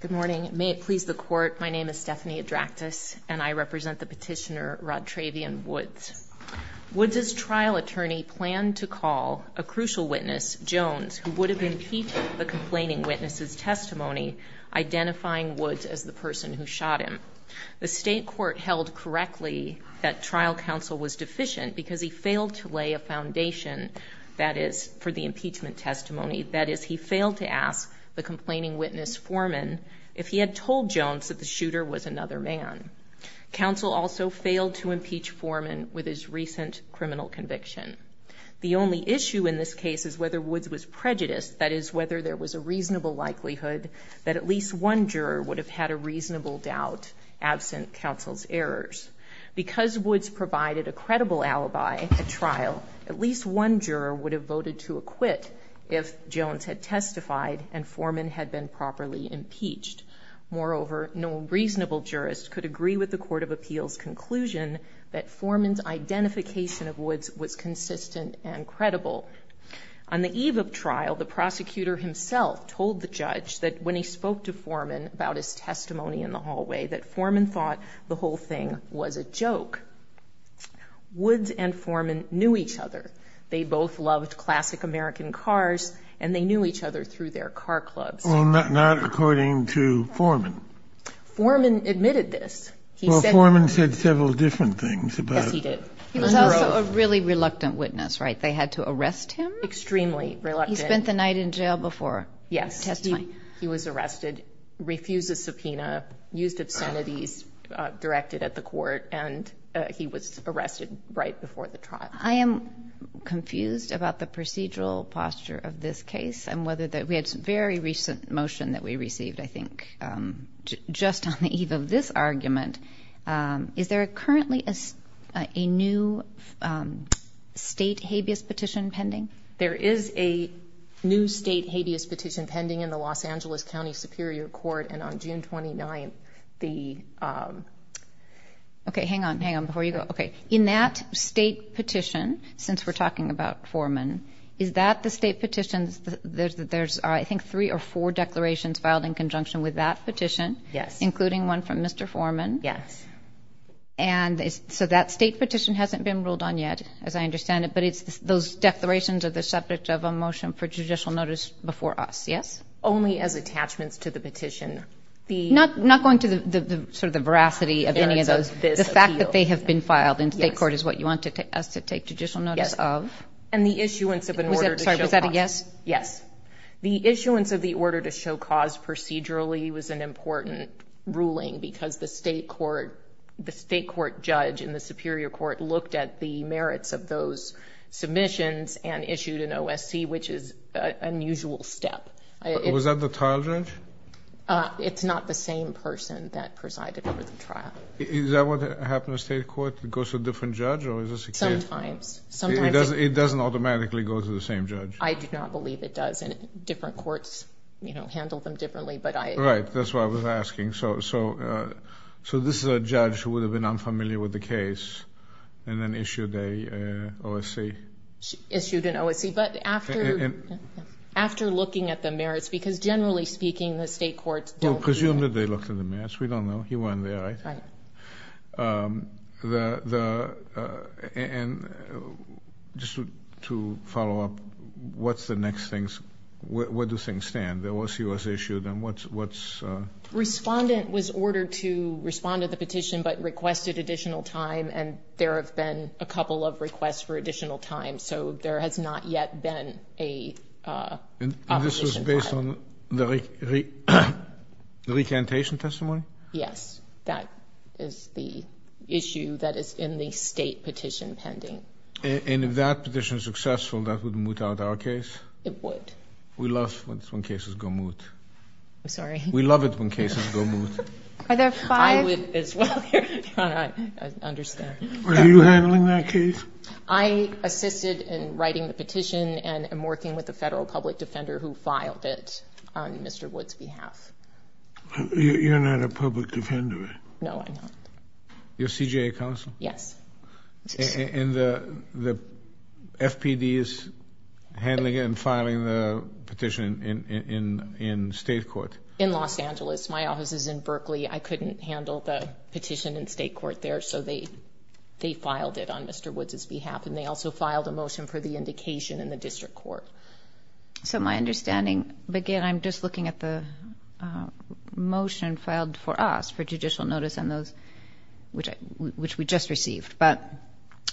Good morning. May it please the Court, my name is Stephanie Adraktis and I represent the petitioner Rodtravion Woods. Woods' trial attorney planned to call a crucial witness, Jones, who would have impeached the complaining witness's testimony, identifying Woods as the person who shot him. The state court held correctly that trial counsel was deficient because he failed to lay a foundation, that is, for the impeachment testimony, that is, he failed to ask the complaining witness, Foreman, if he had told Jones that the shooter was another man. Counsel also failed to impeach Foreman with his recent criminal conviction. The only issue in this case is whether Woods was prejudiced, that is, whether there was a reasonable likelihood that at least one juror would have had a reasonable doubt absent counsel's errors. Because Woods provided a credible alibi at trial, at least one juror would have voted to acquit if Jones had testified and Foreman had been properly impeached. Moreover, no reasonable jurist could agree with the Court of Appeals' conclusion that Foreman's identification of Woods was consistent and credible. On the eve of trial, the prosecutor himself told the judge that when he spoke to Foreman about his testimony in the hallway, that Foreman thought the whole thing was a joke. Woods and Foreman knew each other. They both loved classic American cars, and they knew each other through their car clubs. Well, not according to Foreman. Foreman admitted this. He said... Well, Foreman said several different things about... Yes, he did. He was also a really reluctant witness, right? They had to arrest him? Extremely reluctant. He spent the night in jail before his testimony. Yes, he was arrested, refused a subpoena, used obscenities directed at the court, and he was arrested right before the trial. I am confused about the procedural posture of this case and whether the... We had a very recent motion that we received, I think, just on the eve of this argument. Is there currently a new state habeas petition pending? There is a new state habeas petition pending in the Los Angeles County Superior Court, and on June 29th, the... Okay. Hang on. Hang on before you go. Okay. In that state petition, since we're talking about Foreman, is that the state petition? There's, I think, three or four declarations filed in conjunction with that petition... Yes. ...including one from Mr. Foreman. Yes. And so that state petition hasn't been ruled on yet, as I understand it, but it's those declarations are the subject of a motion for judicial notice before us. Yes? Only as attachments to the petition. Not going to the veracity of any of those. The merits of this appeal. The fact that they have been filed in state court is what you want us to take judicial notice of. Yes. And the issuance of an order to show cause. Was that a yes? Yes. The issuance of the order to show cause procedurally was an important ruling because the state court judge in the Superior Court looked at the merits of those submissions and issued an OSC, which is an unusual step. Was that the trial judge? It's not the same person that presided over the trial. Is that what happened in the state court? It goes to a different judge or is this a case? Sometimes. Sometimes. It doesn't automatically go to the same judge? I do not believe it does. And different courts, you know, handle them differently, but I... Right. That's what I was asking. So this is a judge who would have been unfamiliar with the case and then issued an OSC? Issued an OSC. But after looking at the merits, because generally speaking, the state courts don't... Presumed that they looked at the merits. We don't know. He wasn't there, right? Right. And just to follow up, what's the next thing? Where do things stand? The OSC was issued and what's... Respondent was ordered to respond to the petition but requested additional time and there have been a couple of requests for additional time, so there has not yet been a... And this was based on the recantation testimony? Yes. That is the issue that is in the state petition pending. And if that petition is successful, that would moot out our case? It would. We love it when cases go moot. I'm sorry? We love it when cases go moot. Are there five? I understand. Are you handling that case? I assisted in writing the petition and am working with the federal public defender who filed it on Mr. Wood's behalf. You're not a public defender? No, I'm not. You're CJA counsel? Yes. And the FPD is handling it and filing the petition in state court? In Los Angeles. My office is in Berkeley. I couldn't handle the petition in state court there, so they filed it on Mr. Wood's behalf. And they also filed a motion for the indication in the district court. So my understanding... Again, I'm just looking at the motion filed for us for judicial notice on those which we just received. But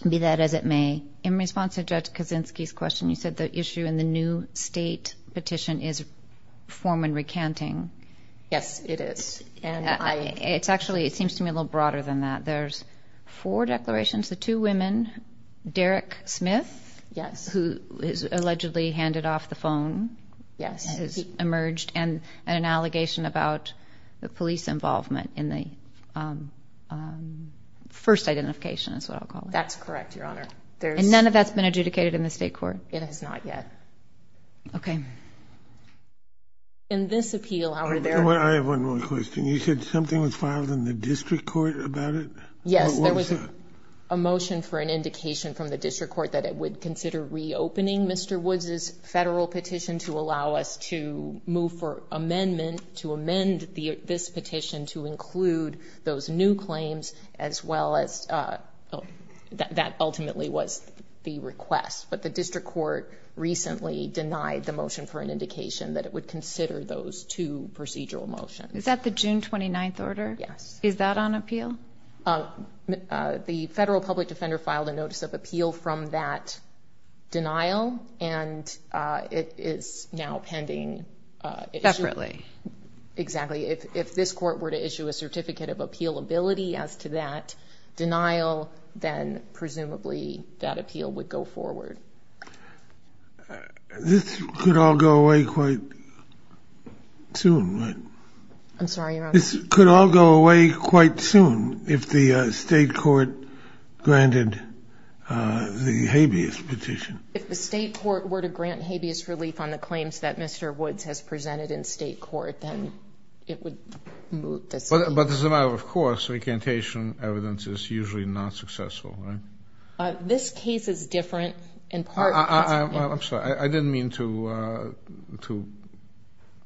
be that as it may, in response to Judge Kaczynski's question, you said the issue in the new state petition is form and recanting. Yes, it is. Actually, it seems to me a little broader than that. There's four declarations. The two women, Derek Smith, who is allegedly handed off the phone, has emerged, and an allegation about the police involvement in the first identification, is what I'll call it. That's correct, Your Honor. And none of that's been adjudicated in the state court? It has not yet. Okay. In this appeal, however, there... I have one more question. You said something was filed in the district court about it? Yes, there was a motion for an indication from the district court that it would consider reopening Mr. Woods' federal petition to allow us to move for amendment to amend this petition to include those new claims, as well as that ultimately was the request. But the district court recently denied the motion for an indication that it would consider those two procedural motions. Is that the June 29th order? Yes. Is that on appeal? The federal public defender filed a notice of appeal from that denial, and it is now pending. Separately. Exactly. If this court were to issue a certificate of appealability as to that denial, then presumably that appeal would go forward. This could all go away quite soon, right? I'm sorry, Your Honor? This could all go away quite soon if the state court granted the habeas petition. If the state court were to grant habeas relief on the claims that Mr. Woods has presented in state court, then it would... But as a matter of course, recantation evidence is usually not successful, right? This case is different in part because... I'm sorry. I didn't mean to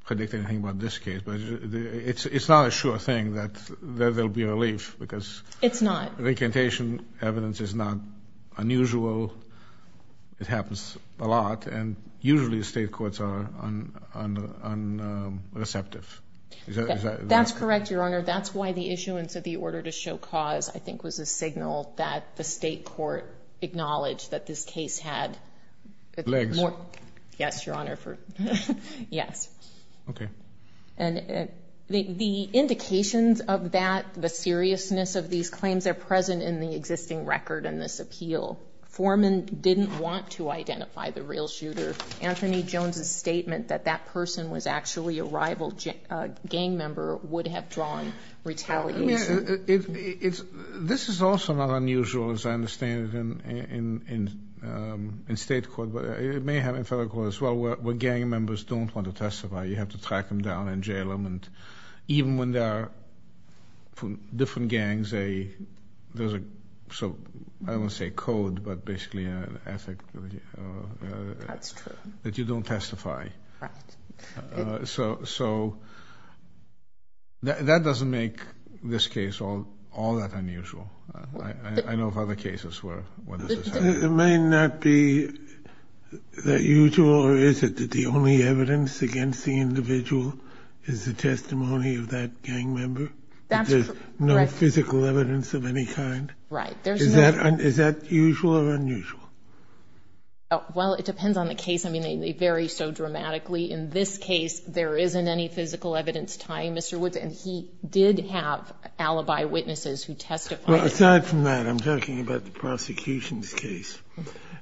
predict anything about this case, but it's not a sure thing that there will be relief because... It's not. Recantation evidence is not unusual. It happens a lot, and usually the state courts are unreceptive. That's correct, Your Honor. That's why the issuance of the order to show cause, I think, was a signal that the state court acknowledged that this case had... Legs. Yes, Your Honor. Yes. Okay. The indications of that, the seriousness of these claims, are present in the existing record in this appeal. Foreman didn't want to identify the real shooter. Anthony Jones's statement that that person was actually a rival gang member would have drawn retaliation. This is also not unusual, as I understand it, in state court. It may happen in federal court as well where gang members don't want to testify. You have to track them down and jail them. Even when there are different gangs, there's a, I won't say code, but basically an ethic. That's true. That you don't testify. Right. So that doesn't make this case all that unusual. I know of other cases where this has happened. It may not be that usual, or is it, that the only evidence against the individual is the testimony of that gang member? That's correct. There's no physical evidence of any kind? Right. Is that usual or unusual? Well, it depends on the case. I mean, they vary so dramatically. In this case, there isn't any physical evidence tying Mr. Woods, and he did have alibi witnesses who testified. Well, aside from that, I'm talking about the prosecution's case.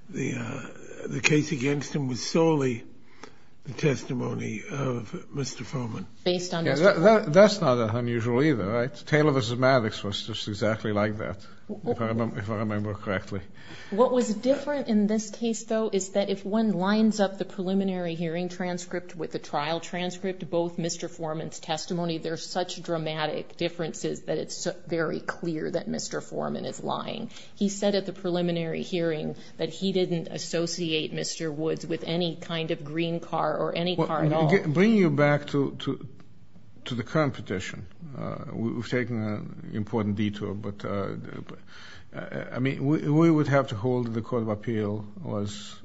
The case against him was solely the testimony of Mr. Foreman. Based on Mr. Foreman. That's not unusual either, right? Taylor v. Maddox was just exactly like that, if I remember correctly. What was different in this case, though, is that if one lines up the preliminary hearing transcript with the trial transcript, both Mr. Foreman's testimony, there's such dramatic differences that it's very clear that Mr. Foreman is lying. He said at the preliminary hearing that he didn't associate Mr. Woods with any kind of green car or any car at all. Bringing you back to the current petition, we've taken an important detour, but, I mean, we would have to hold that the court of appeal was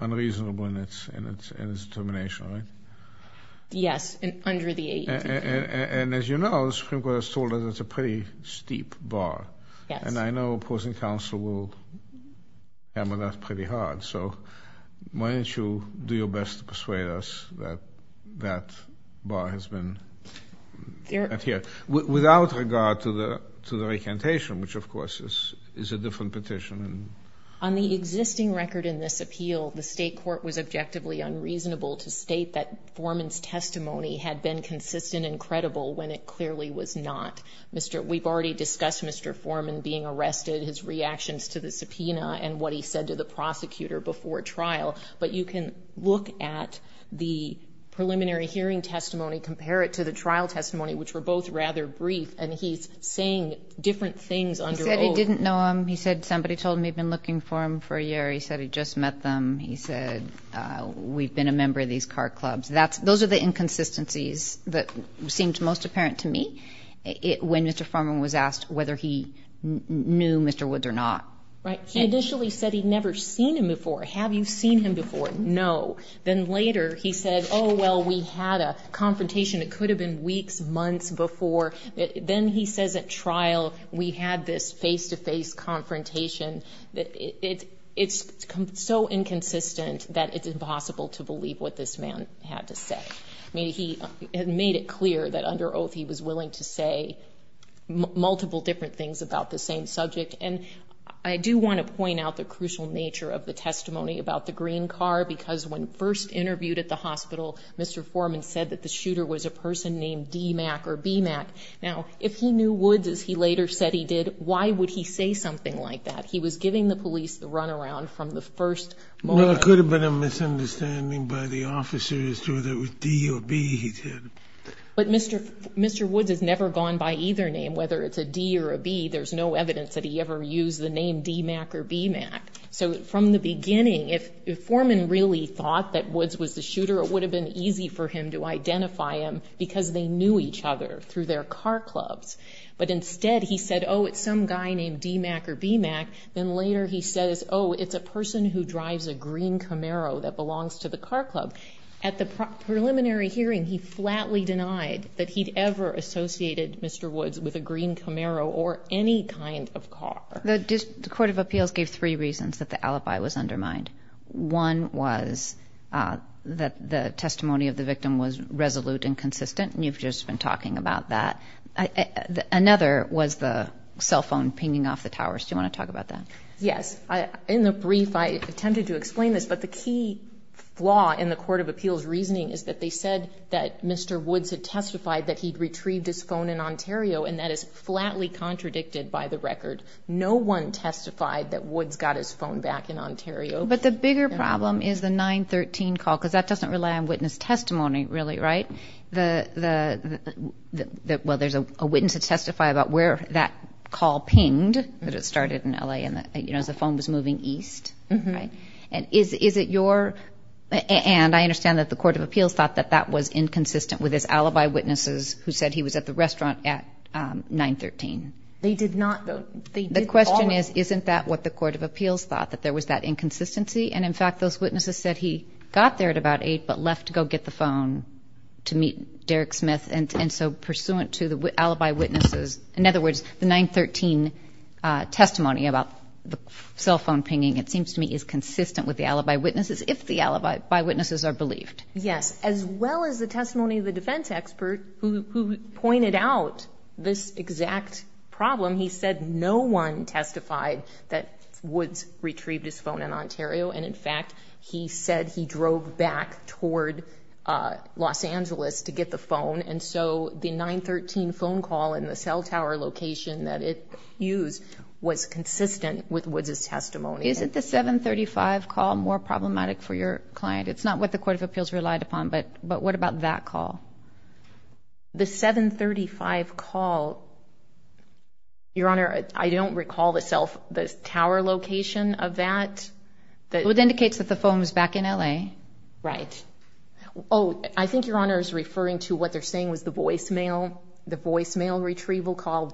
unreasonable in its determination, right? Yes, under the 18th. And, as you know, the Supreme Court has told us it's a pretty steep bar. Yes. And I know opposing counsel will hammer that pretty hard. So why don't you do your best to persuade us that that bar has been adhered to, without regard to the recantation, which, of course, is a different petition. On the existing record in this appeal, the state court was objectively unreasonable to state that when it clearly was not. We've already discussed Mr. Foreman being arrested, his reactions to the subpoena, and what he said to the prosecutor before trial. But you can look at the preliminary hearing testimony, compare it to the trial testimony, which were both rather brief, and he's saying different things under oath. He said he didn't know him. He said somebody told him they'd been looking for him for a year. He said he'd just met them. He said, we've been a member of these car clubs. Those are the inconsistencies that seemed most apparent to me when Mr. Foreman was asked whether he knew Mr. Woods or not. Right. He initially said he'd never seen him before. Have you seen him before? No. Then later he said, oh, well, we had a confrontation. It could have been weeks, months before. Then he says at trial we had this face-to-face confrontation. It's so inconsistent that it's impossible to believe what this man had to say. I mean, he made it clear that under oath he was willing to say multiple different things about the same subject. And I do want to point out the crucial nature of the testimony about the green car, because when first interviewed at the hospital, Mr. Foreman said that the shooter was a person named DMACC or BMACC. Now, if he knew Woods, as he later said he did, why would he say something like that? He was giving the police the runaround from the first moment. Well, it could have been a misunderstanding by the officer as to whether it was D or B he said. But Mr. Woods has never gone by either name, whether it's a D or a B. There's no evidence that he ever used the name DMACC or BMACC. So from the beginning, if Foreman really thought that Woods was the shooter, it would have been easy for him to identify him because they knew each other through their car clubs. But instead, he said, oh, it's some guy named DMACC or BMACC. Then later he says, oh, it's a person who drives a green Camaro that belongs to the car club. At the preliminary hearing, he flatly denied that he'd ever associated Mr. Woods with a green Camaro or any kind of car. The Court of Appeals gave three reasons that the alibi was undermined. One was that the testimony of the victim was resolute and consistent, and you've just been talking about that. Another was the cell phone pinging off the towers. Do you want to talk about that? Yes. In the brief, I attempted to explain this, but the key flaw in the Court of Appeals reasoning is that they said that Mr. Woods had testified that he'd retrieved his phone in Ontario, and that is flatly contradicted by the record. No one testified that Woods got his phone back in Ontario. But the bigger problem is the 913 call, because that doesn't rely on witness testimony, really, right? Well, there's a witness to testify about where that call pinged, that it started in L.A., and the phone was moving east, right? And is it your ‑‑ and I understand that the Court of Appeals thought that that was inconsistent with his alibi witnesses who said he was at the restaurant at 913. They did not. The question is, isn't that what the Court of Appeals thought, that there was that inconsistency? And, in fact, those witnesses said he got there at about 8 but left to go get the phone to meet Derek Smith, and so pursuant to the alibi witnesses, in other words, the 913 testimony about the cell phone pinging, it seems to me is consistent with the alibi witnesses if the alibi witnesses are believed. Yes, as well as the testimony of the defense expert who pointed out this exact problem. He said no one testified that Woods retrieved his phone in Ontario, and, in fact, he said he drove back toward Los Angeles to get the phone, and so the 913 phone call in the cell tower location that it used was consistent with Woods' testimony. Isn't the 735 call more problematic for your client? It's not what the Court of Appeals relied upon, but what about that call? The 735 call, Your Honor, I don't recall the tower location of that. Well, it indicates that the phone was back in L.A. Right. Oh, I think Your Honor is referring to what they're saying was the voicemail retrieval call.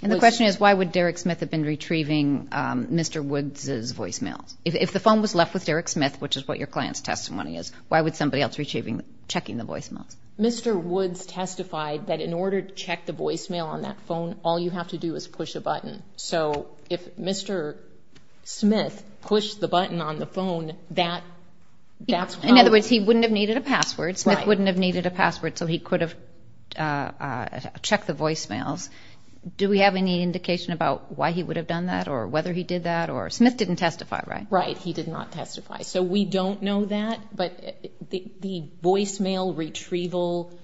And the question is, why would Derek Smith have been retrieving Mr. Woods' voicemails? If the phone was left with Derek Smith, which is what your client's testimony is, why would somebody else be checking the voicemails? Mr. Woods testified that in order to check the voicemail on that phone, all you have to do is push a button. So if Mr. Smith pushed the button on the phone, that's how... In other words, he wouldn't have needed a password. Right. Smith wouldn't have needed a password, so he could have checked the voicemails. Do we have any indication about why he would have done that or whether he did that? Or Smith didn't testify, right? Right. He did not testify. So we don't know that. But the voicemail retrieval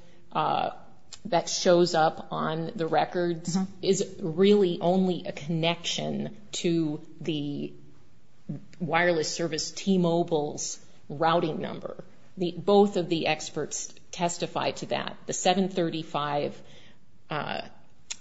that shows up on the records is really only a connection to the wireless service T-Mobile's routing number. Both of the experts testify to that. The 735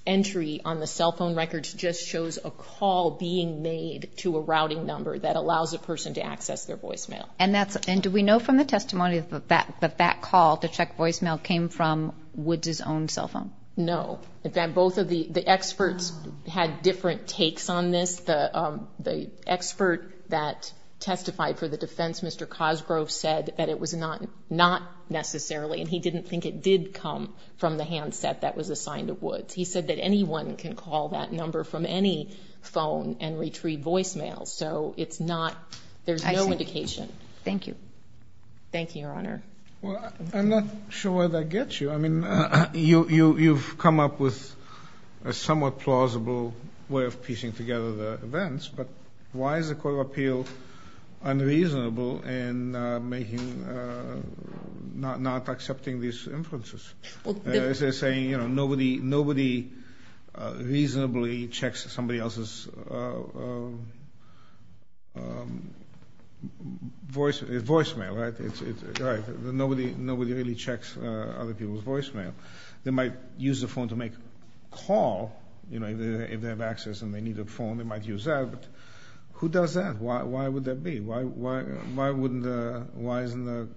entry on the cell phone records just shows a call being made to a routing number that allows a person to access their voicemail. And do we know from the testimony that that call to check voicemail came from Woods' own cell phone? No. In fact, both of the experts had different takes on this. The expert that testified for the defense, Mr. Cosgrove, said that it was not necessarily, and he didn't think it did come from the handset that was assigned to Woods. He said that anyone can call that number from any phone and retrieve voicemails. So it's not, there's no indication. Thank you. Thank you, Your Honor. Well, I'm not sure where that gets you. I mean, you've come up with a somewhat plausible way of piecing together the events, but why is the Court of Appeal unreasonable in making, not accepting these inferences? They're saying, you know, nobody reasonably checks somebody else's voicemail, right? Nobody really checks other people's voicemail. They might use the phone to make a call, you know, if they have access and they need a phone, they might use that, but who does that? Why would that be? Why wouldn't the, why isn't the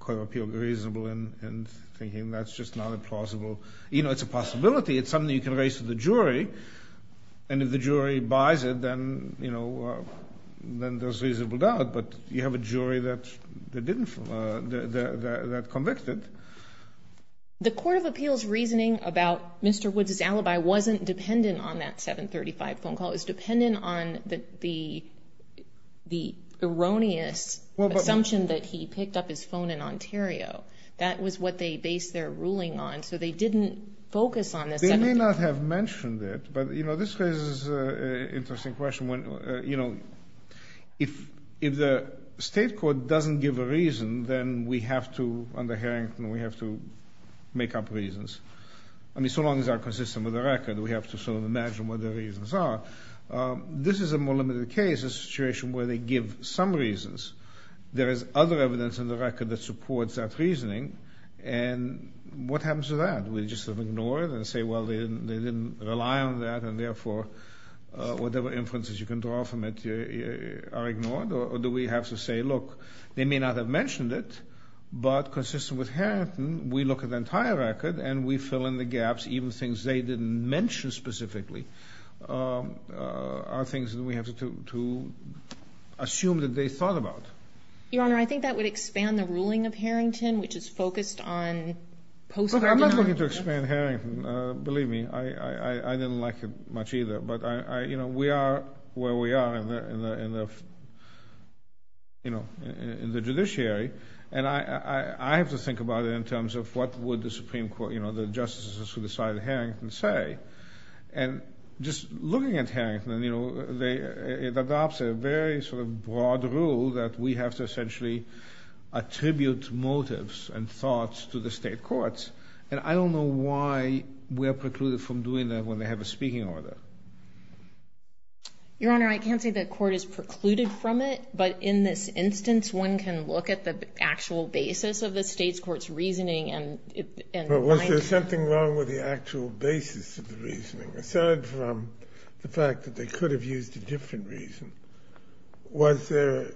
Court of Appeal reasonable in thinking that's just not plausible? You know, it's a possibility. It's something you can raise to the jury, and if the jury buys it, then, you know, then there's reasonable doubt, but you have a jury that convicted. The Court of Appeal's reasoning about Mr. Woods' alibi wasn't dependent on that 735 phone call. It was dependent on the erroneous assumption that he picked up his phone in Ontario. That was what they based their ruling on, so they didn't focus on the 735. They may not have mentioned it, but, you know, this raises an interesting question. You know, if the state court doesn't give a reason, then we have to, under Harrington, we have to make up reasons. I mean, so long as they're consistent with the record, we have to sort of imagine what the reasons are. This is a more limited case, a situation where they give some reasons. There is other evidence in the record that supports that reasoning, and what happens to that? Do we just sort of ignore it and say, well, they didn't rely on that, and therefore, whatever inferences you can draw from it are ignored, or do we have to say, look, they may not have mentioned it, but consistent with Harrington, we look at the entire record, and we fill in the gaps, even things they didn't mention specifically, are things that we have to assume that they thought about. Your Honor, I think that would expand the ruling of Harrington, which is focused on post-conviction. Look, I'm not looking to expand Harrington, believe me. I didn't like it much either, but, you know, we are where we are in the judiciary, and I have to think about it in terms of what would the Supreme Court, you know, the justices who decided Harrington say. And just looking at Harrington, you know, it adopts a very sort of broad rule that we have to essentially attribute motives and thoughts to the state courts, and I don't know why we are precluded from doing that when they have a speaking order. Your Honor, I can't say the court is precluded from it, but in this instance, one can look at the actual basis of the state's court's reasoning, and it might be. But was there something wrong with the actual basis of the reasoning, aside from the fact that they could have used a different reason? Was their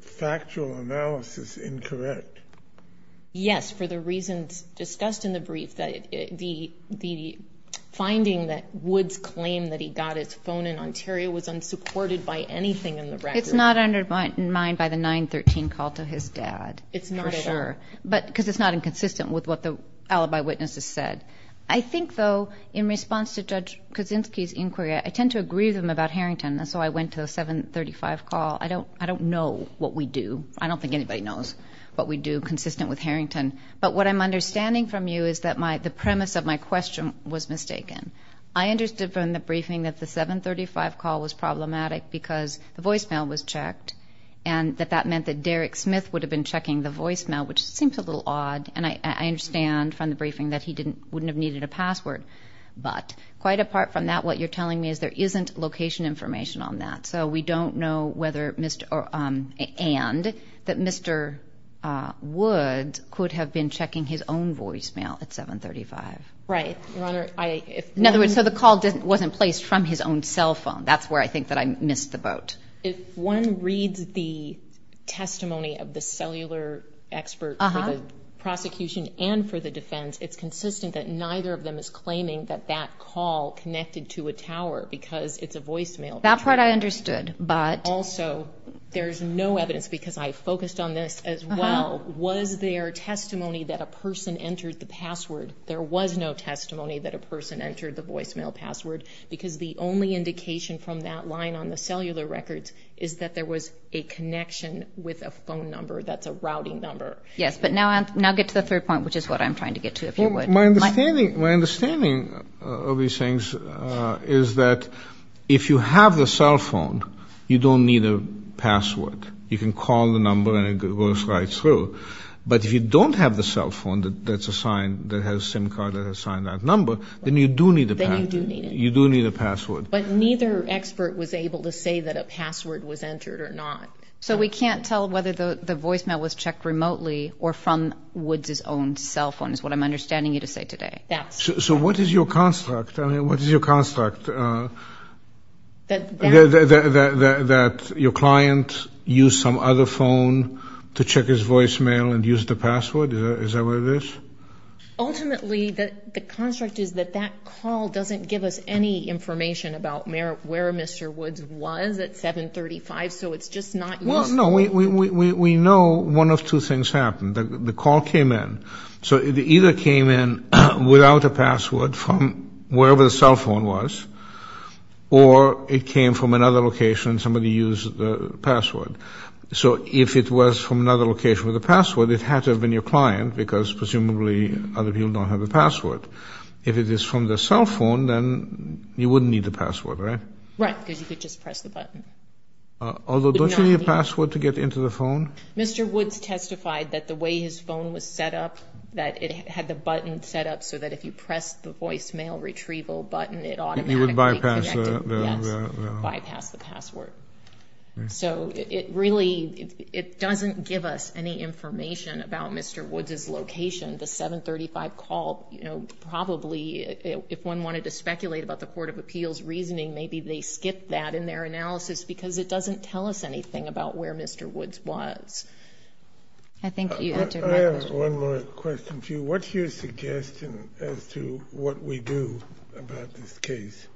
factual analysis incorrect? Yes, for the reasons discussed in the brief, the finding that Woods claimed that he got his phone in Ontario was unsupported by anything in the record. It's not undermined by the 913 call to his dad. It's not at all. For sure, because it's not inconsistent with what the alibi witnesses said. I think, though, in response to Judge Kaczynski's inquiry, I tend to agree with him about Harrington, and so I went to the 735 call. I don't know what we do. I don't think anybody knows what we do consistent with Harrington. But what I'm understanding from you is that the premise of my question was mistaken. I understood from the briefing that the 735 call was problematic because the voicemail was checked, and that that meant that Derek Smith would have been checking the voicemail, which seems a little odd, and I understand from the briefing that he wouldn't have needed a password. But quite apart from that, what you're telling me is there isn't location information on that, and that Mr. Woods could have been checking his own voicemail at 735. Right, Your Honor. In other words, so the call wasn't placed from his own cell phone. That's where I think that I missed the boat. If one reads the testimony of the cellular expert for the prosecution and for the defense, it's consistent that neither of them is claiming that that call connected to a tower because it's a voicemail. That part I understood, but… Also, there's no evidence because I focused on this as well. Was there testimony that a person entered the password? There was no testimony that a person entered the voicemail password because the only indication from that line on the cellular records is that there was a connection with a phone number that's a routing number. Yes, but now get to the third point, which is what I'm trying to get to, if you would. My understanding of these things is that if you have the cell phone, you don't need a password. You can call the number and it goes right through. But if you don't have the cell phone that's assigned, that has a SIM card that has assigned that number, then you do need a password. Then you do need it. You do need a password. But neither expert was able to say that a password was entered or not. So we can't tell whether the voicemail was checked remotely or from Woods' own cell phone is what I'm understanding you to say today. So what is your construct? I mean, what is your construct? That your client used some other phone to check his voicemail and used the password? Is that what it is? Ultimately, the construct is that that call doesn't give us any information about where Mr. Woods was at 735, so it's just not useful. Well, no, we know one of two things happened. The call came in. So it either came in without a password from wherever the cell phone was, or it came from another location and somebody used the password. So if it was from another location with a password, it had to have been your client because presumably other people don't have the password. If it is from the cell phone, then you wouldn't need the password, right? Right, because you could just press the button. Although, don't you need a password to get into the phone? Mr. Woods testified that the way his phone was set up, that it had the button set up so that if you pressed the voicemail retrieval button, it automatically connected. It would bypass the password. So it really doesn't give us any information about Mr. Woods' location. The 735 call probably, if one wanted to speculate about the court of appeals reasoning, maybe they skipped that in their analysis because it doesn't tell us anything about where Mr. Woods was. I think you answered my question. I have one more question for you. What's your suggestion as to what we do about this case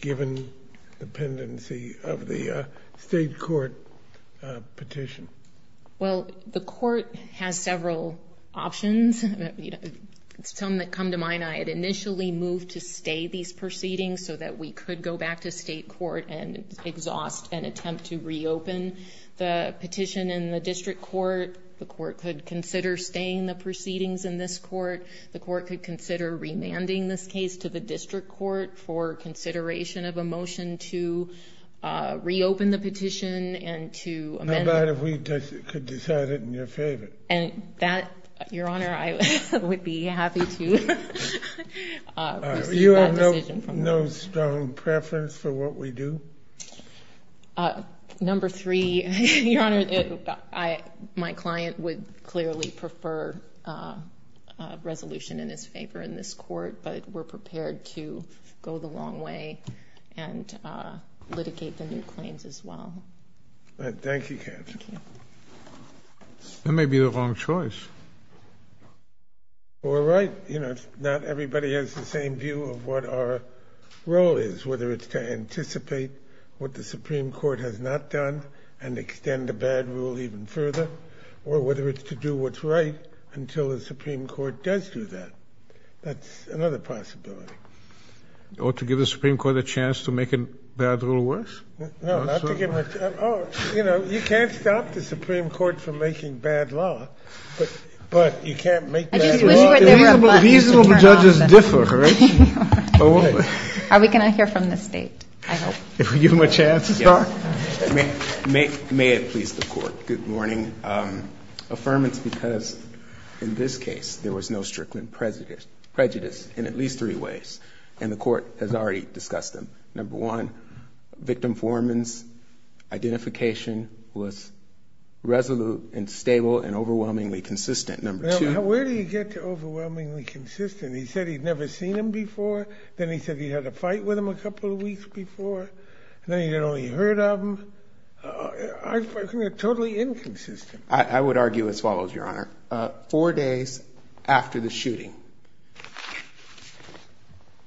given the pendency of the state court petition? Well, the court has several options. Some that come to mind, I had initially moved to stay these proceedings so that we could go back to state court and exhaust an attempt to reopen the petition in the district court. The court could consider staying the proceedings in this court. The court could consider remanding this case to the district court for consideration of a motion to reopen the petition and to amend it. Not bad if we could decide it in your favor. Your Honor, I would be happy to receive that decision. You have no strong preference for what we do? Number three, Your Honor, my client would clearly prefer a resolution in his favor in this court, but we're prepared to go the long way and litigate the new claims as well. Thank you, Kathy. Thank you. That may be the wrong choice. Well, right. You know, not everybody has the same view of what our role is, whether it's to anticipate what the Supreme Court has not done and extend a bad rule even further or whether it's to do what's right until the Supreme Court does do that. That's another possibility. Or to give the Supreme Court a chance to make a bad rule worse? No, not to give a chance. Oh, you know, you can't stop the Supreme Court from making bad law, but you can't make bad law worse. I just wish there were a button to turn off. These little judges differ, right? Are we going to hear from the State? I hope. If we give them a chance to start. May it please the Court, good morning. Affirmance because in this case there was no strictly prejudice in at least three ways, and the Court has already discussed them. Number one, victim Foreman's identification was resolute and stable and overwhelmingly consistent. Where do you get to overwhelmingly consistent? He said he'd never seen him before. Then he said he'd had a fight with him a couple of weeks before. Then he'd only heard of him. Totally inconsistent. I would argue as follows, Your Honor. Four days after the shooting,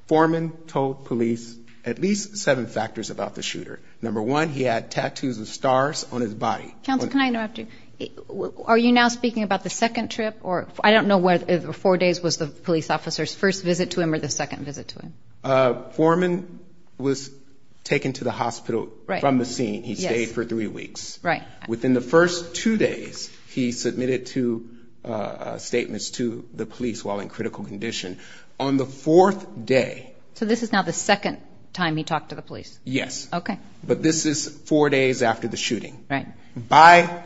Foreman told police at least seven factors about the shooter. Number one, he had tattoos of stars on his body. Counsel, can I interrupt you? Are you now speaking about the second trip? I don't know whether four days was the police officer's first visit to him or the second visit to him. Foreman was taken to the hospital from the scene. He stayed for three weeks. Right. Within the first two days, he submitted two statements to the police while in critical condition. On the fourth day. So this is now the second time he talked to the police? Yes. Okay. But this is four days after the shooting. Right. By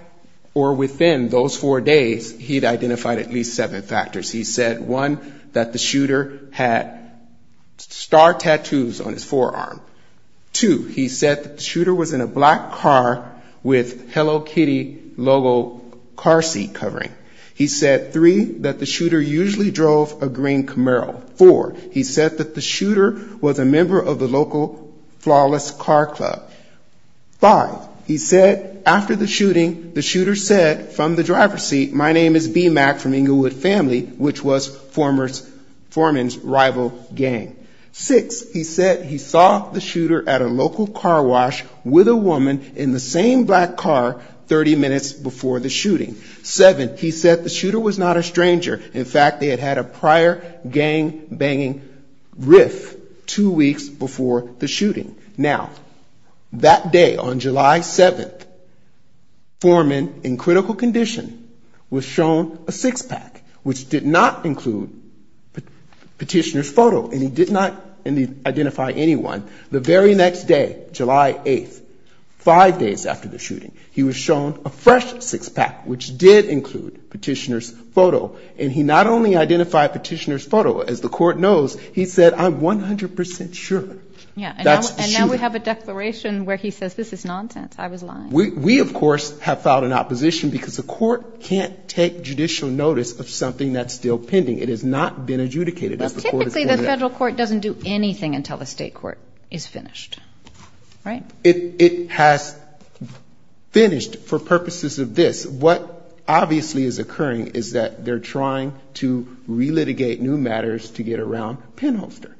or within those four days, he'd identified at least seven factors. He said, one, that the shooter had star tattoos on his forearm. Two, he said that the shooter was in a black car with Hello Kitty logo car seat covering. He said, three, that the shooter usually drove a green Camaro. Four, he said that the shooter was a member of the local Flawless Car Club. Five, he said after the shooting, the shooter said from the driver's seat, my name is B. Mack from Inglewood family, which was Foreman's rival gang. Six, he said he saw the shooter at a local car wash with a woman in the same black car 30 minutes before the shooting. Seven, he said the shooter was not a stranger. Now, that day on July 7th, Foreman in critical condition was shown a six pack, which did not include petitioner's photo, and he did not identify anyone. The very next day, July 8th, five days after the shooting, he was shown a fresh six pack, which did include petitioner's photo. And he not only identified petitioner's photo, as the court knows, he said, I'm 100% sure that's the shooter. And now we have a declaration where he says this is nonsense, I was lying. We, of course, have filed an opposition because the court can't take judicial notice of something that's still pending. It has not been adjudicated. Typically the federal court doesn't do anything until the state court is finished, right? It has finished for purposes of this. What obviously is occurring is that they're trying to relitigate new matters to get around Penholster.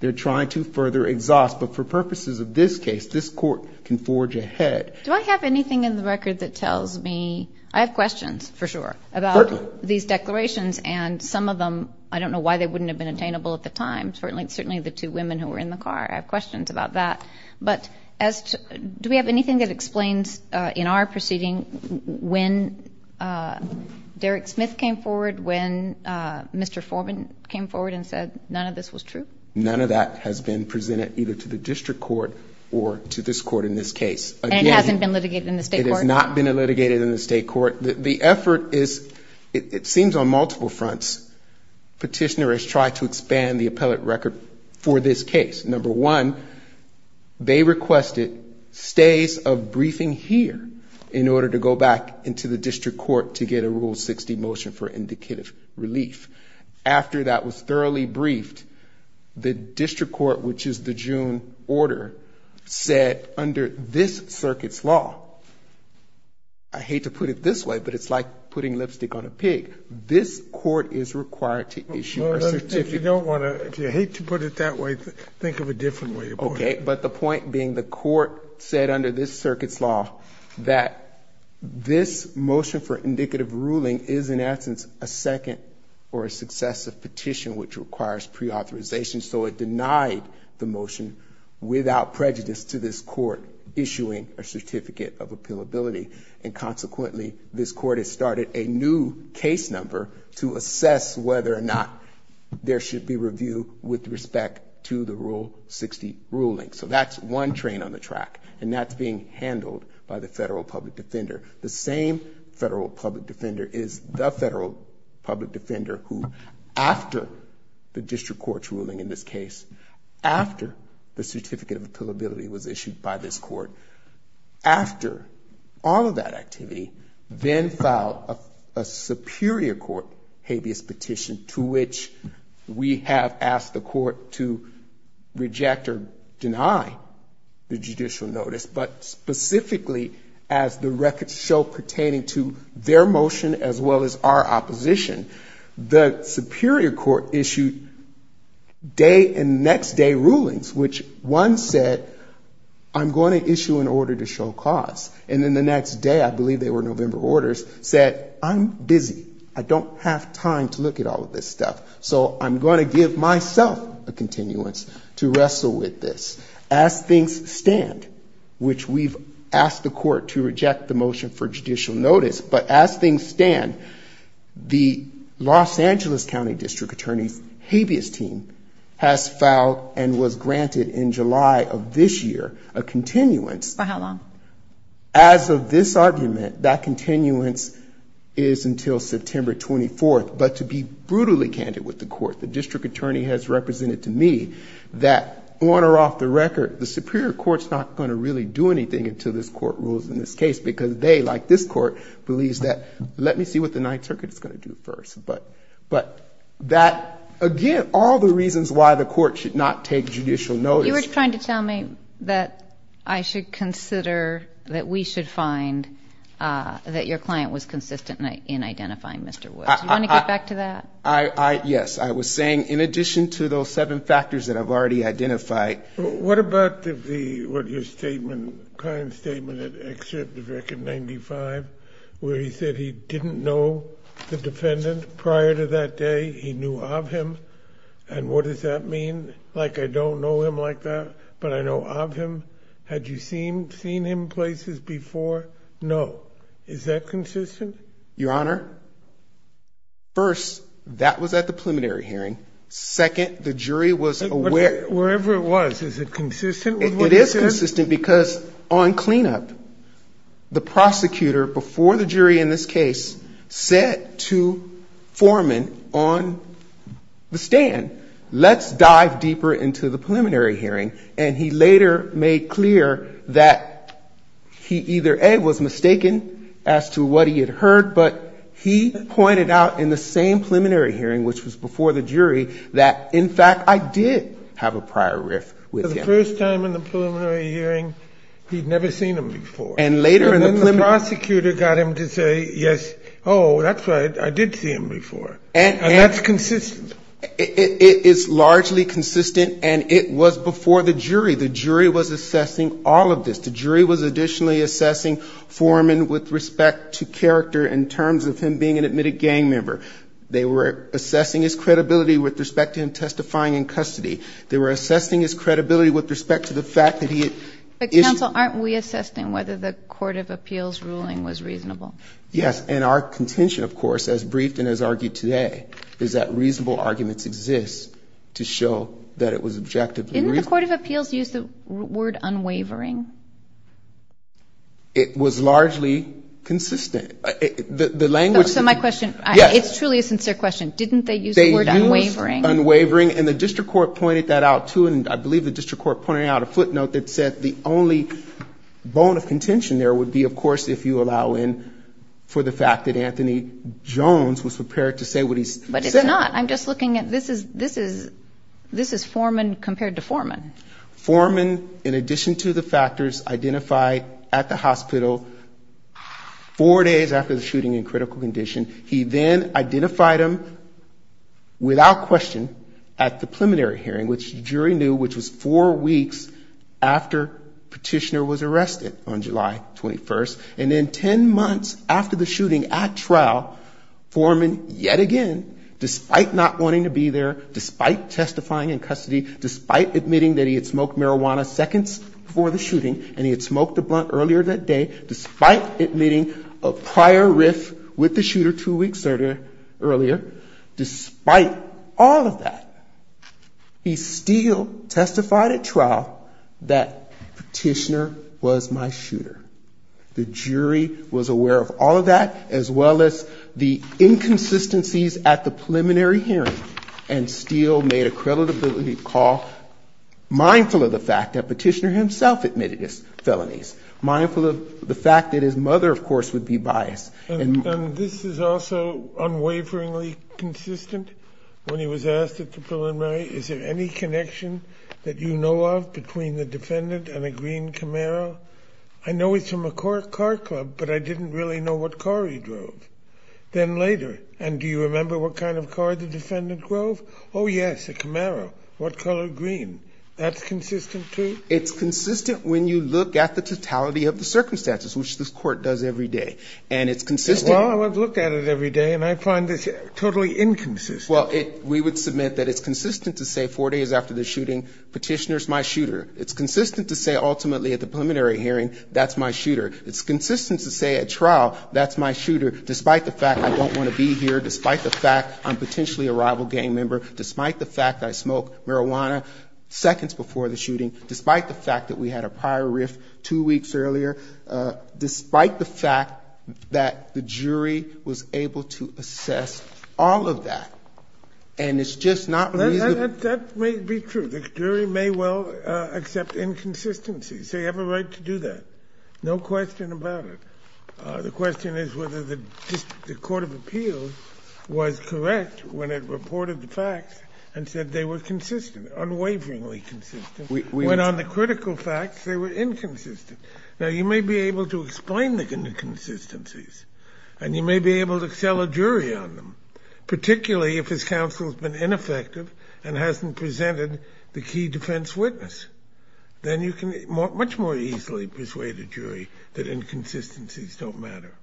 They're trying to further exhaust, but for purposes of this case, this court can forge ahead. Do I have anything in the record that tells me, I have questions for sure about these declarations and some of them, I don't know why they wouldn't have been attainable at the time, certainly the two women who were in the car, I have questions about that. But do we have anything that explains in our proceeding when Derek Smith came forward, when Mr. Foreman came forward and said none of this was true? None of that has been presented either to the district court or to this court in this case. And it hasn't been litigated in the state court? It has not been litigated in the state court. The effort is, it seems on multiple fronts, petitioner has tried to expand the appellate record for this case. Number one, they requested stays of briefing here in order to go back into the district court to get a Rule 60 motion for indicative relief. After that was thoroughly briefed, the district court, which is the June order, said under this circuit's law, I hate to put it this way, but it's like putting lipstick on a pig. This court is required to issue a certificate. If you don't want to, if you hate to put it that way, think of a different way. OK, but the point being the court said under this circuit's law that this motion for indicative ruling is in essence a second or a successive petition which requires preauthorization. So it denied the motion without prejudice to this court issuing a certificate of appeal ability. And consequently, this court has started a new case number to assess whether or not there should be review with respect to the Rule 60 ruling. So that's one train on the track and that's being handled by the federal public defender. The same federal public defender is the federal public defender who after the district court's ruling in this case, after the certificate of appeal ability was issued by this court, after all of that activity, then filed a superior court habeas petition to which we have asked the court to reject or deny the judicial notice, but specifically as the records show pertaining to their motion as well as our opposition. The superior court issued day and next day rulings which one said, I'm going to issue an order to show cause. And then the next day, I believe they were November orders, said, I'm busy. I don't have time to look at all of this stuff. So I'm going to give myself a continuance to wrestle with this. As things stand, which we've asked the court to reject the motion for judicial notice, but as things stand, the Los Angeles County District Attorney's habeas team has filed and was granted in July of this year a continuance. As of this argument, that continuance is until September 24th. But to be brutally candid with the court, the district attorney has represented to me that on or off the record, the superior court's not going to really do anything until this court rules in this case because they, like this court, believes that, let me see what the ninth circuit is going to do first. But that, again, all the reasons why the court should not take judicial notice. You were trying to tell me that I should consider, that we should find that your client was consistent in identifying Mr. Woods. Do you want to get back to that? Yes. I was saying in addition to those seven factors that I've already identified. What about the, what your statement, client's statement at Excerpt of Record 95, where he said he didn't know the defendant prior to that day. He knew of him. And what does that mean? Like, I don't know him like that, but I know of him. Had you seen him places before? No. Is that consistent? Your Honor, first, that was at the preliminary hearing. Second, the jury was aware. Wherever it was, is it consistent? It is consistent because on cleanup, the prosecutor before the jury in this case said to Foreman on the stand, let's dive deeper into the preliminary hearing. And he later made clear that he either, A, was mistaken as to what he had heard, but he pointed out in the same preliminary hearing, which was before the jury, that, in fact, I did have a prior riff with him. The first time in the preliminary hearing, he'd never seen him before. And then the prosecutor got him to say, yes, oh, that's right, I did see him before. And that's consistent. It is largely consistent, and it was before the jury. The jury was assessing all of this. The jury was additionally assessing Foreman with respect to character in terms of him being an admitted gang member. They were assessing his credibility with respect to him testifying in custody. They were assessing his credibility with respect to the fact that he had issued. But, counsel, aren't we assessing whether the court of appeals ruling was reasonable? Yes, and our contention, of course, as briefed and as argued today, is that reasonable arguments exist to show that it was objectively reasonable. Did the court of appeals use the word unwavering? It was largely consistent. So my question, it's truly a sincere question, didn't they use the word unwavering? They used unwavering, and the district court pointed that out, too, and I believe the district court pointed out a footnote that said the only bone of contention there would be, of course, if you allow in, for the fact that Anthony Jones was prepared to say what he said. But it's not, I'm just looking at, this is Foreman compared to Foreman. Foreman, in addition to the factors identified at the hospital four days after the shooting in critical condition, he then identified him without question at the preliminary hearing, which the jury knew, which was four weeks after Petitioner was arrested on July 21st. And then ten months after the shooting at trial, Foreman, yet again, despite not wanting to be there, despite testifying in custody, despite admitting that he had smoked marijuana seconds before the shooting, and he had smoked a blunt earlier that day, despite admitting a prior riff with the shooter two weeks earlier, despite all of that, he still testified at trial that Petitioner was my shooter. The jury was aware of all of that, as well as the inconsistencies at the preliminary hearing, and still made a credibility call, mindful of the fact that Petitioner himself admitted his felonies, mindful of the fact that his mother, of course, would be biased. And this is also unwaveringly consistent. When he was asked at the preliminary, is there any connection that you know of between the defendant and a green Camaro? I know it's from a car club, but I didn't really know what car he drove. Then later, and do you remember what kind of car the defendant drove? Oh, yes, a Camaro. What color green? That's consistent, too? It's consistent when you look at the totality of the circumstances, which this court does every day. And it's consistent... Well, I've looked at it every day, and I find this totally inconsistent. Well, we would submit that it's consistent to say four days after the shooting, Petitioner's my shooter. It's consistent to say, ultimately, at the preliminary hearing, that's my shooter. It's consistent to say at trial, that's my shooter, despite the fact I don't want to be here, despite the fact I'm potentially a rival gang member, despite the fact I smoked marijuana seconds before the shooting, despite the fact that we had a prior riff two weeks earlier, despite the fact that the jury was able to assess all of that. And it's just not reasonable... That may be true. The jury may well accept inconsistencies. They have a right to do that. No question about it. The question is whether the Court of Appeals was correct when it reported the facts and said they were consistent, unwaveringly consistent, when on the critical facts, they were inconsistent. Now, you may be able to explain the inconsistencies, and you may be able to sell a jury on them, particularly if his counsel's been ineffective and hasn't presented the key defense witness. Then you can much more easily persuade a jury that inconsistencies don't matter.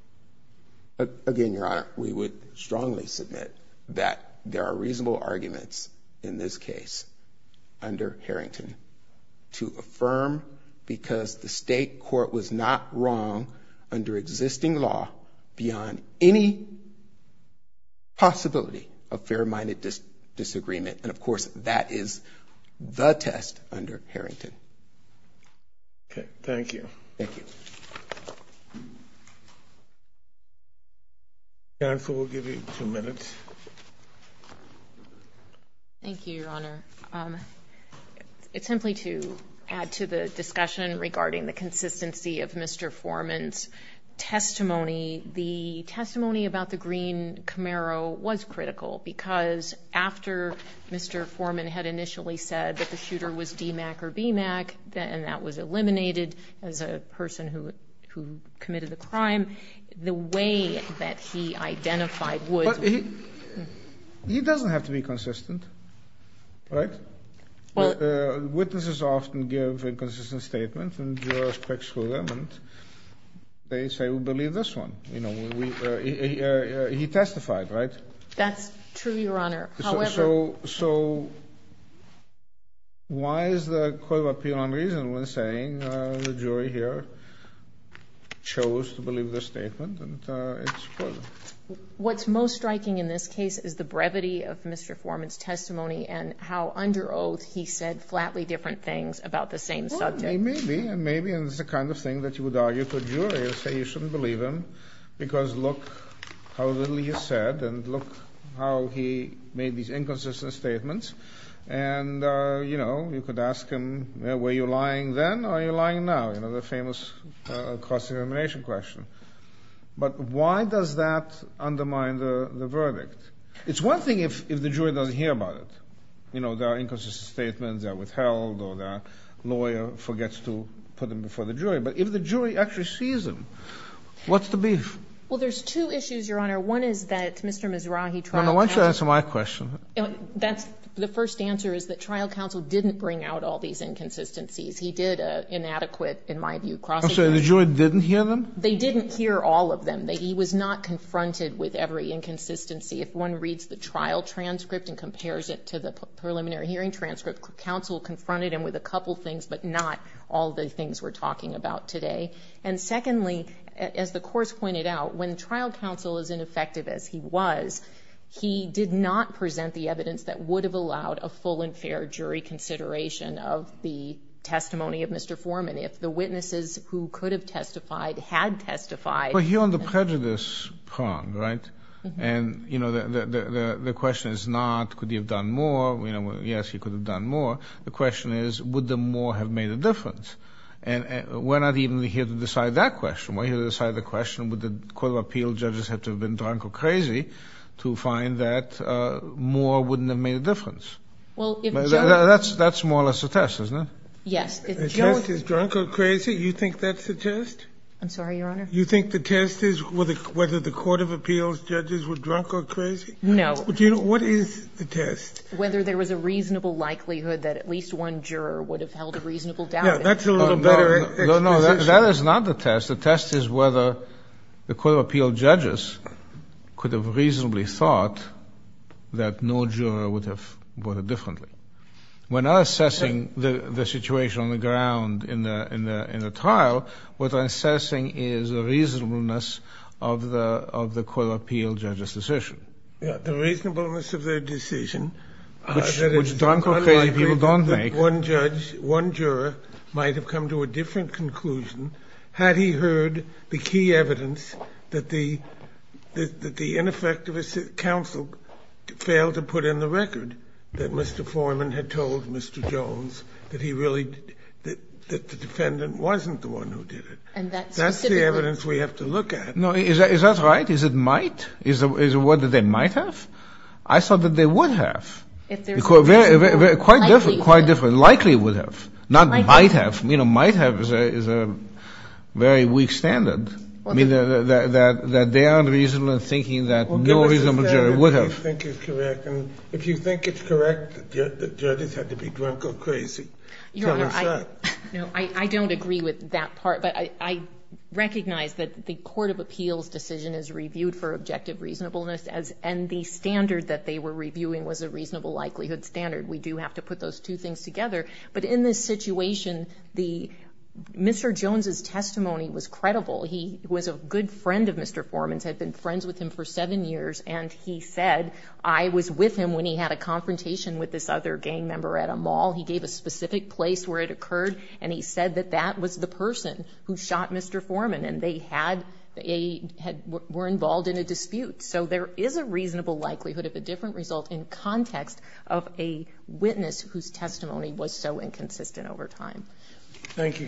Again, Your Honor, we would strongly submit that there are reasonable arguments in this case, under Harrington, to affirm, because the state court was not wrong under existing law, beyond any possibility of fair-minded disagreement. And of course, that is the test under Harrington. Okay. Thank you. Counsel will give you two minutes. Thank you, Your Honor. Simply to add to the discussion regarding the consistency of Mr. Foreman's testimony, the testimony about the green Camaro was critical, because after Mr. Foreman had initially said that the shooter was DMACC or BMACC, and that was eliminated as a person who committed the crime, the way that he identified would... He doesn't have to be consistent, right? Witnesses often give inconsistent statements, and jurors pick through them, and they say, we believe this one. He testified, right? That's true, Your Honor. So, why is the court of appeal unreasonable in saying the jury here chose to believe this statement? What's most striking in this case is the brevity of Mr. Foreman's testimony, and how under oath he said flatly different things about the same subject. Maybe, and it's the kind of thing that you would argue to a jury and say you shouldn't believe him, because look how little he has said, and look how he made these inconsistent statements, and you know, you could ask him, were you lying then, or are you lying now? You know, the famous cross-examination question. But why does that undermine the verdict? It's one thing if the jury doesn't hear about it. You know, there are inconsistent statements that are withheld, or the lawyer forgets to put them before the jury, but if the jury actually sees them, what's the beef? Well, there's two issues, Your Honor. One is that Mr. Mizrahi... No, no, why don't you answer my question. The first answer is that trial counsel didn't bring out all these inconsistencies. He did an inadequate, in my view, cross-examination. I'm sorry, the jury didn't hear them? They didn't hear all of them. He was not confronted with every inconsistency. If one reads the trial transcript and compares it to the preliminary hearing transcript, counsel confronted him with a couple things, but not all the things we're talking about today. And secondly, as the course pointed out, when trial counsel is ineffective as he was, he did not present the evidence that would have allowed a full and fair jury consideration of the testimony of Mr. Foreman. If the witnesses who could have testified had testified... Well, you're on the prejudice prong, right? And the question is not, could he have done more? Yes, he could have done more. The question is, would the more have made a difference? And we're not even here to decide that question. We're here to decide the question, would the court of appeals judges have to have been drunk or crazy to find that more wouldn't have made a difference? That's more or less a test, isn't it? A test is drunk or crazy? You think that's a test? I'm sorry, Your Honor. You think the test is whether the court of appeals judges were drunk or crazy? No. What is the test? Whether there was a reasonable likelihood that at least one juror would have held a reasonable doubt. No, that is not the test. The test is whether the court of appeals judges could have reasonably thought that no juror would have voted differently. We're not assessing the situation on the ground in the trial. What we're assessing is the reasonableness of the court of appeals judges' decision. The reasonableness of their decision. Which drunk or crazy people don't make. One judge, one juror might have come to a different conclusion had he heard the key evidence that the ineffective counsel failed to put in the record that Mr. Foreman had told Mr. Jones that the defendant wasn't the one who did it. That's the evidence we have to look at. Is that right? Is it might? Is it what they might have? I thought that they would have. Quite different. Likely would have. Not might have. Might have is a very weak standard. That they aren't reasonable in thinking that no reasonable juror would have. If you think it's correct that judges had to be drunk or crazy, tell us that. I don't agree with that part. But I recognize that the court of appeals decision is reviewed for objective reasonableness and the standard that they were reviewing was a reasonable likelihood standard. We do have to put those two things together. But in this situation, Mr. Jones' testimony was credible. He was a good friend of Mr. Foreman's, had been friends with him for seven years, and he said, I was with him when he had a confrontation with this other gang member at a mall. He gave a specific place where it occurred and he said that that was the person who shot Mr. Foreman and they were involved in a dispute. So there is a reasonable likelihood of a different result in context of a witness whose testimony was so inconsistent over time. Thank you, counsel.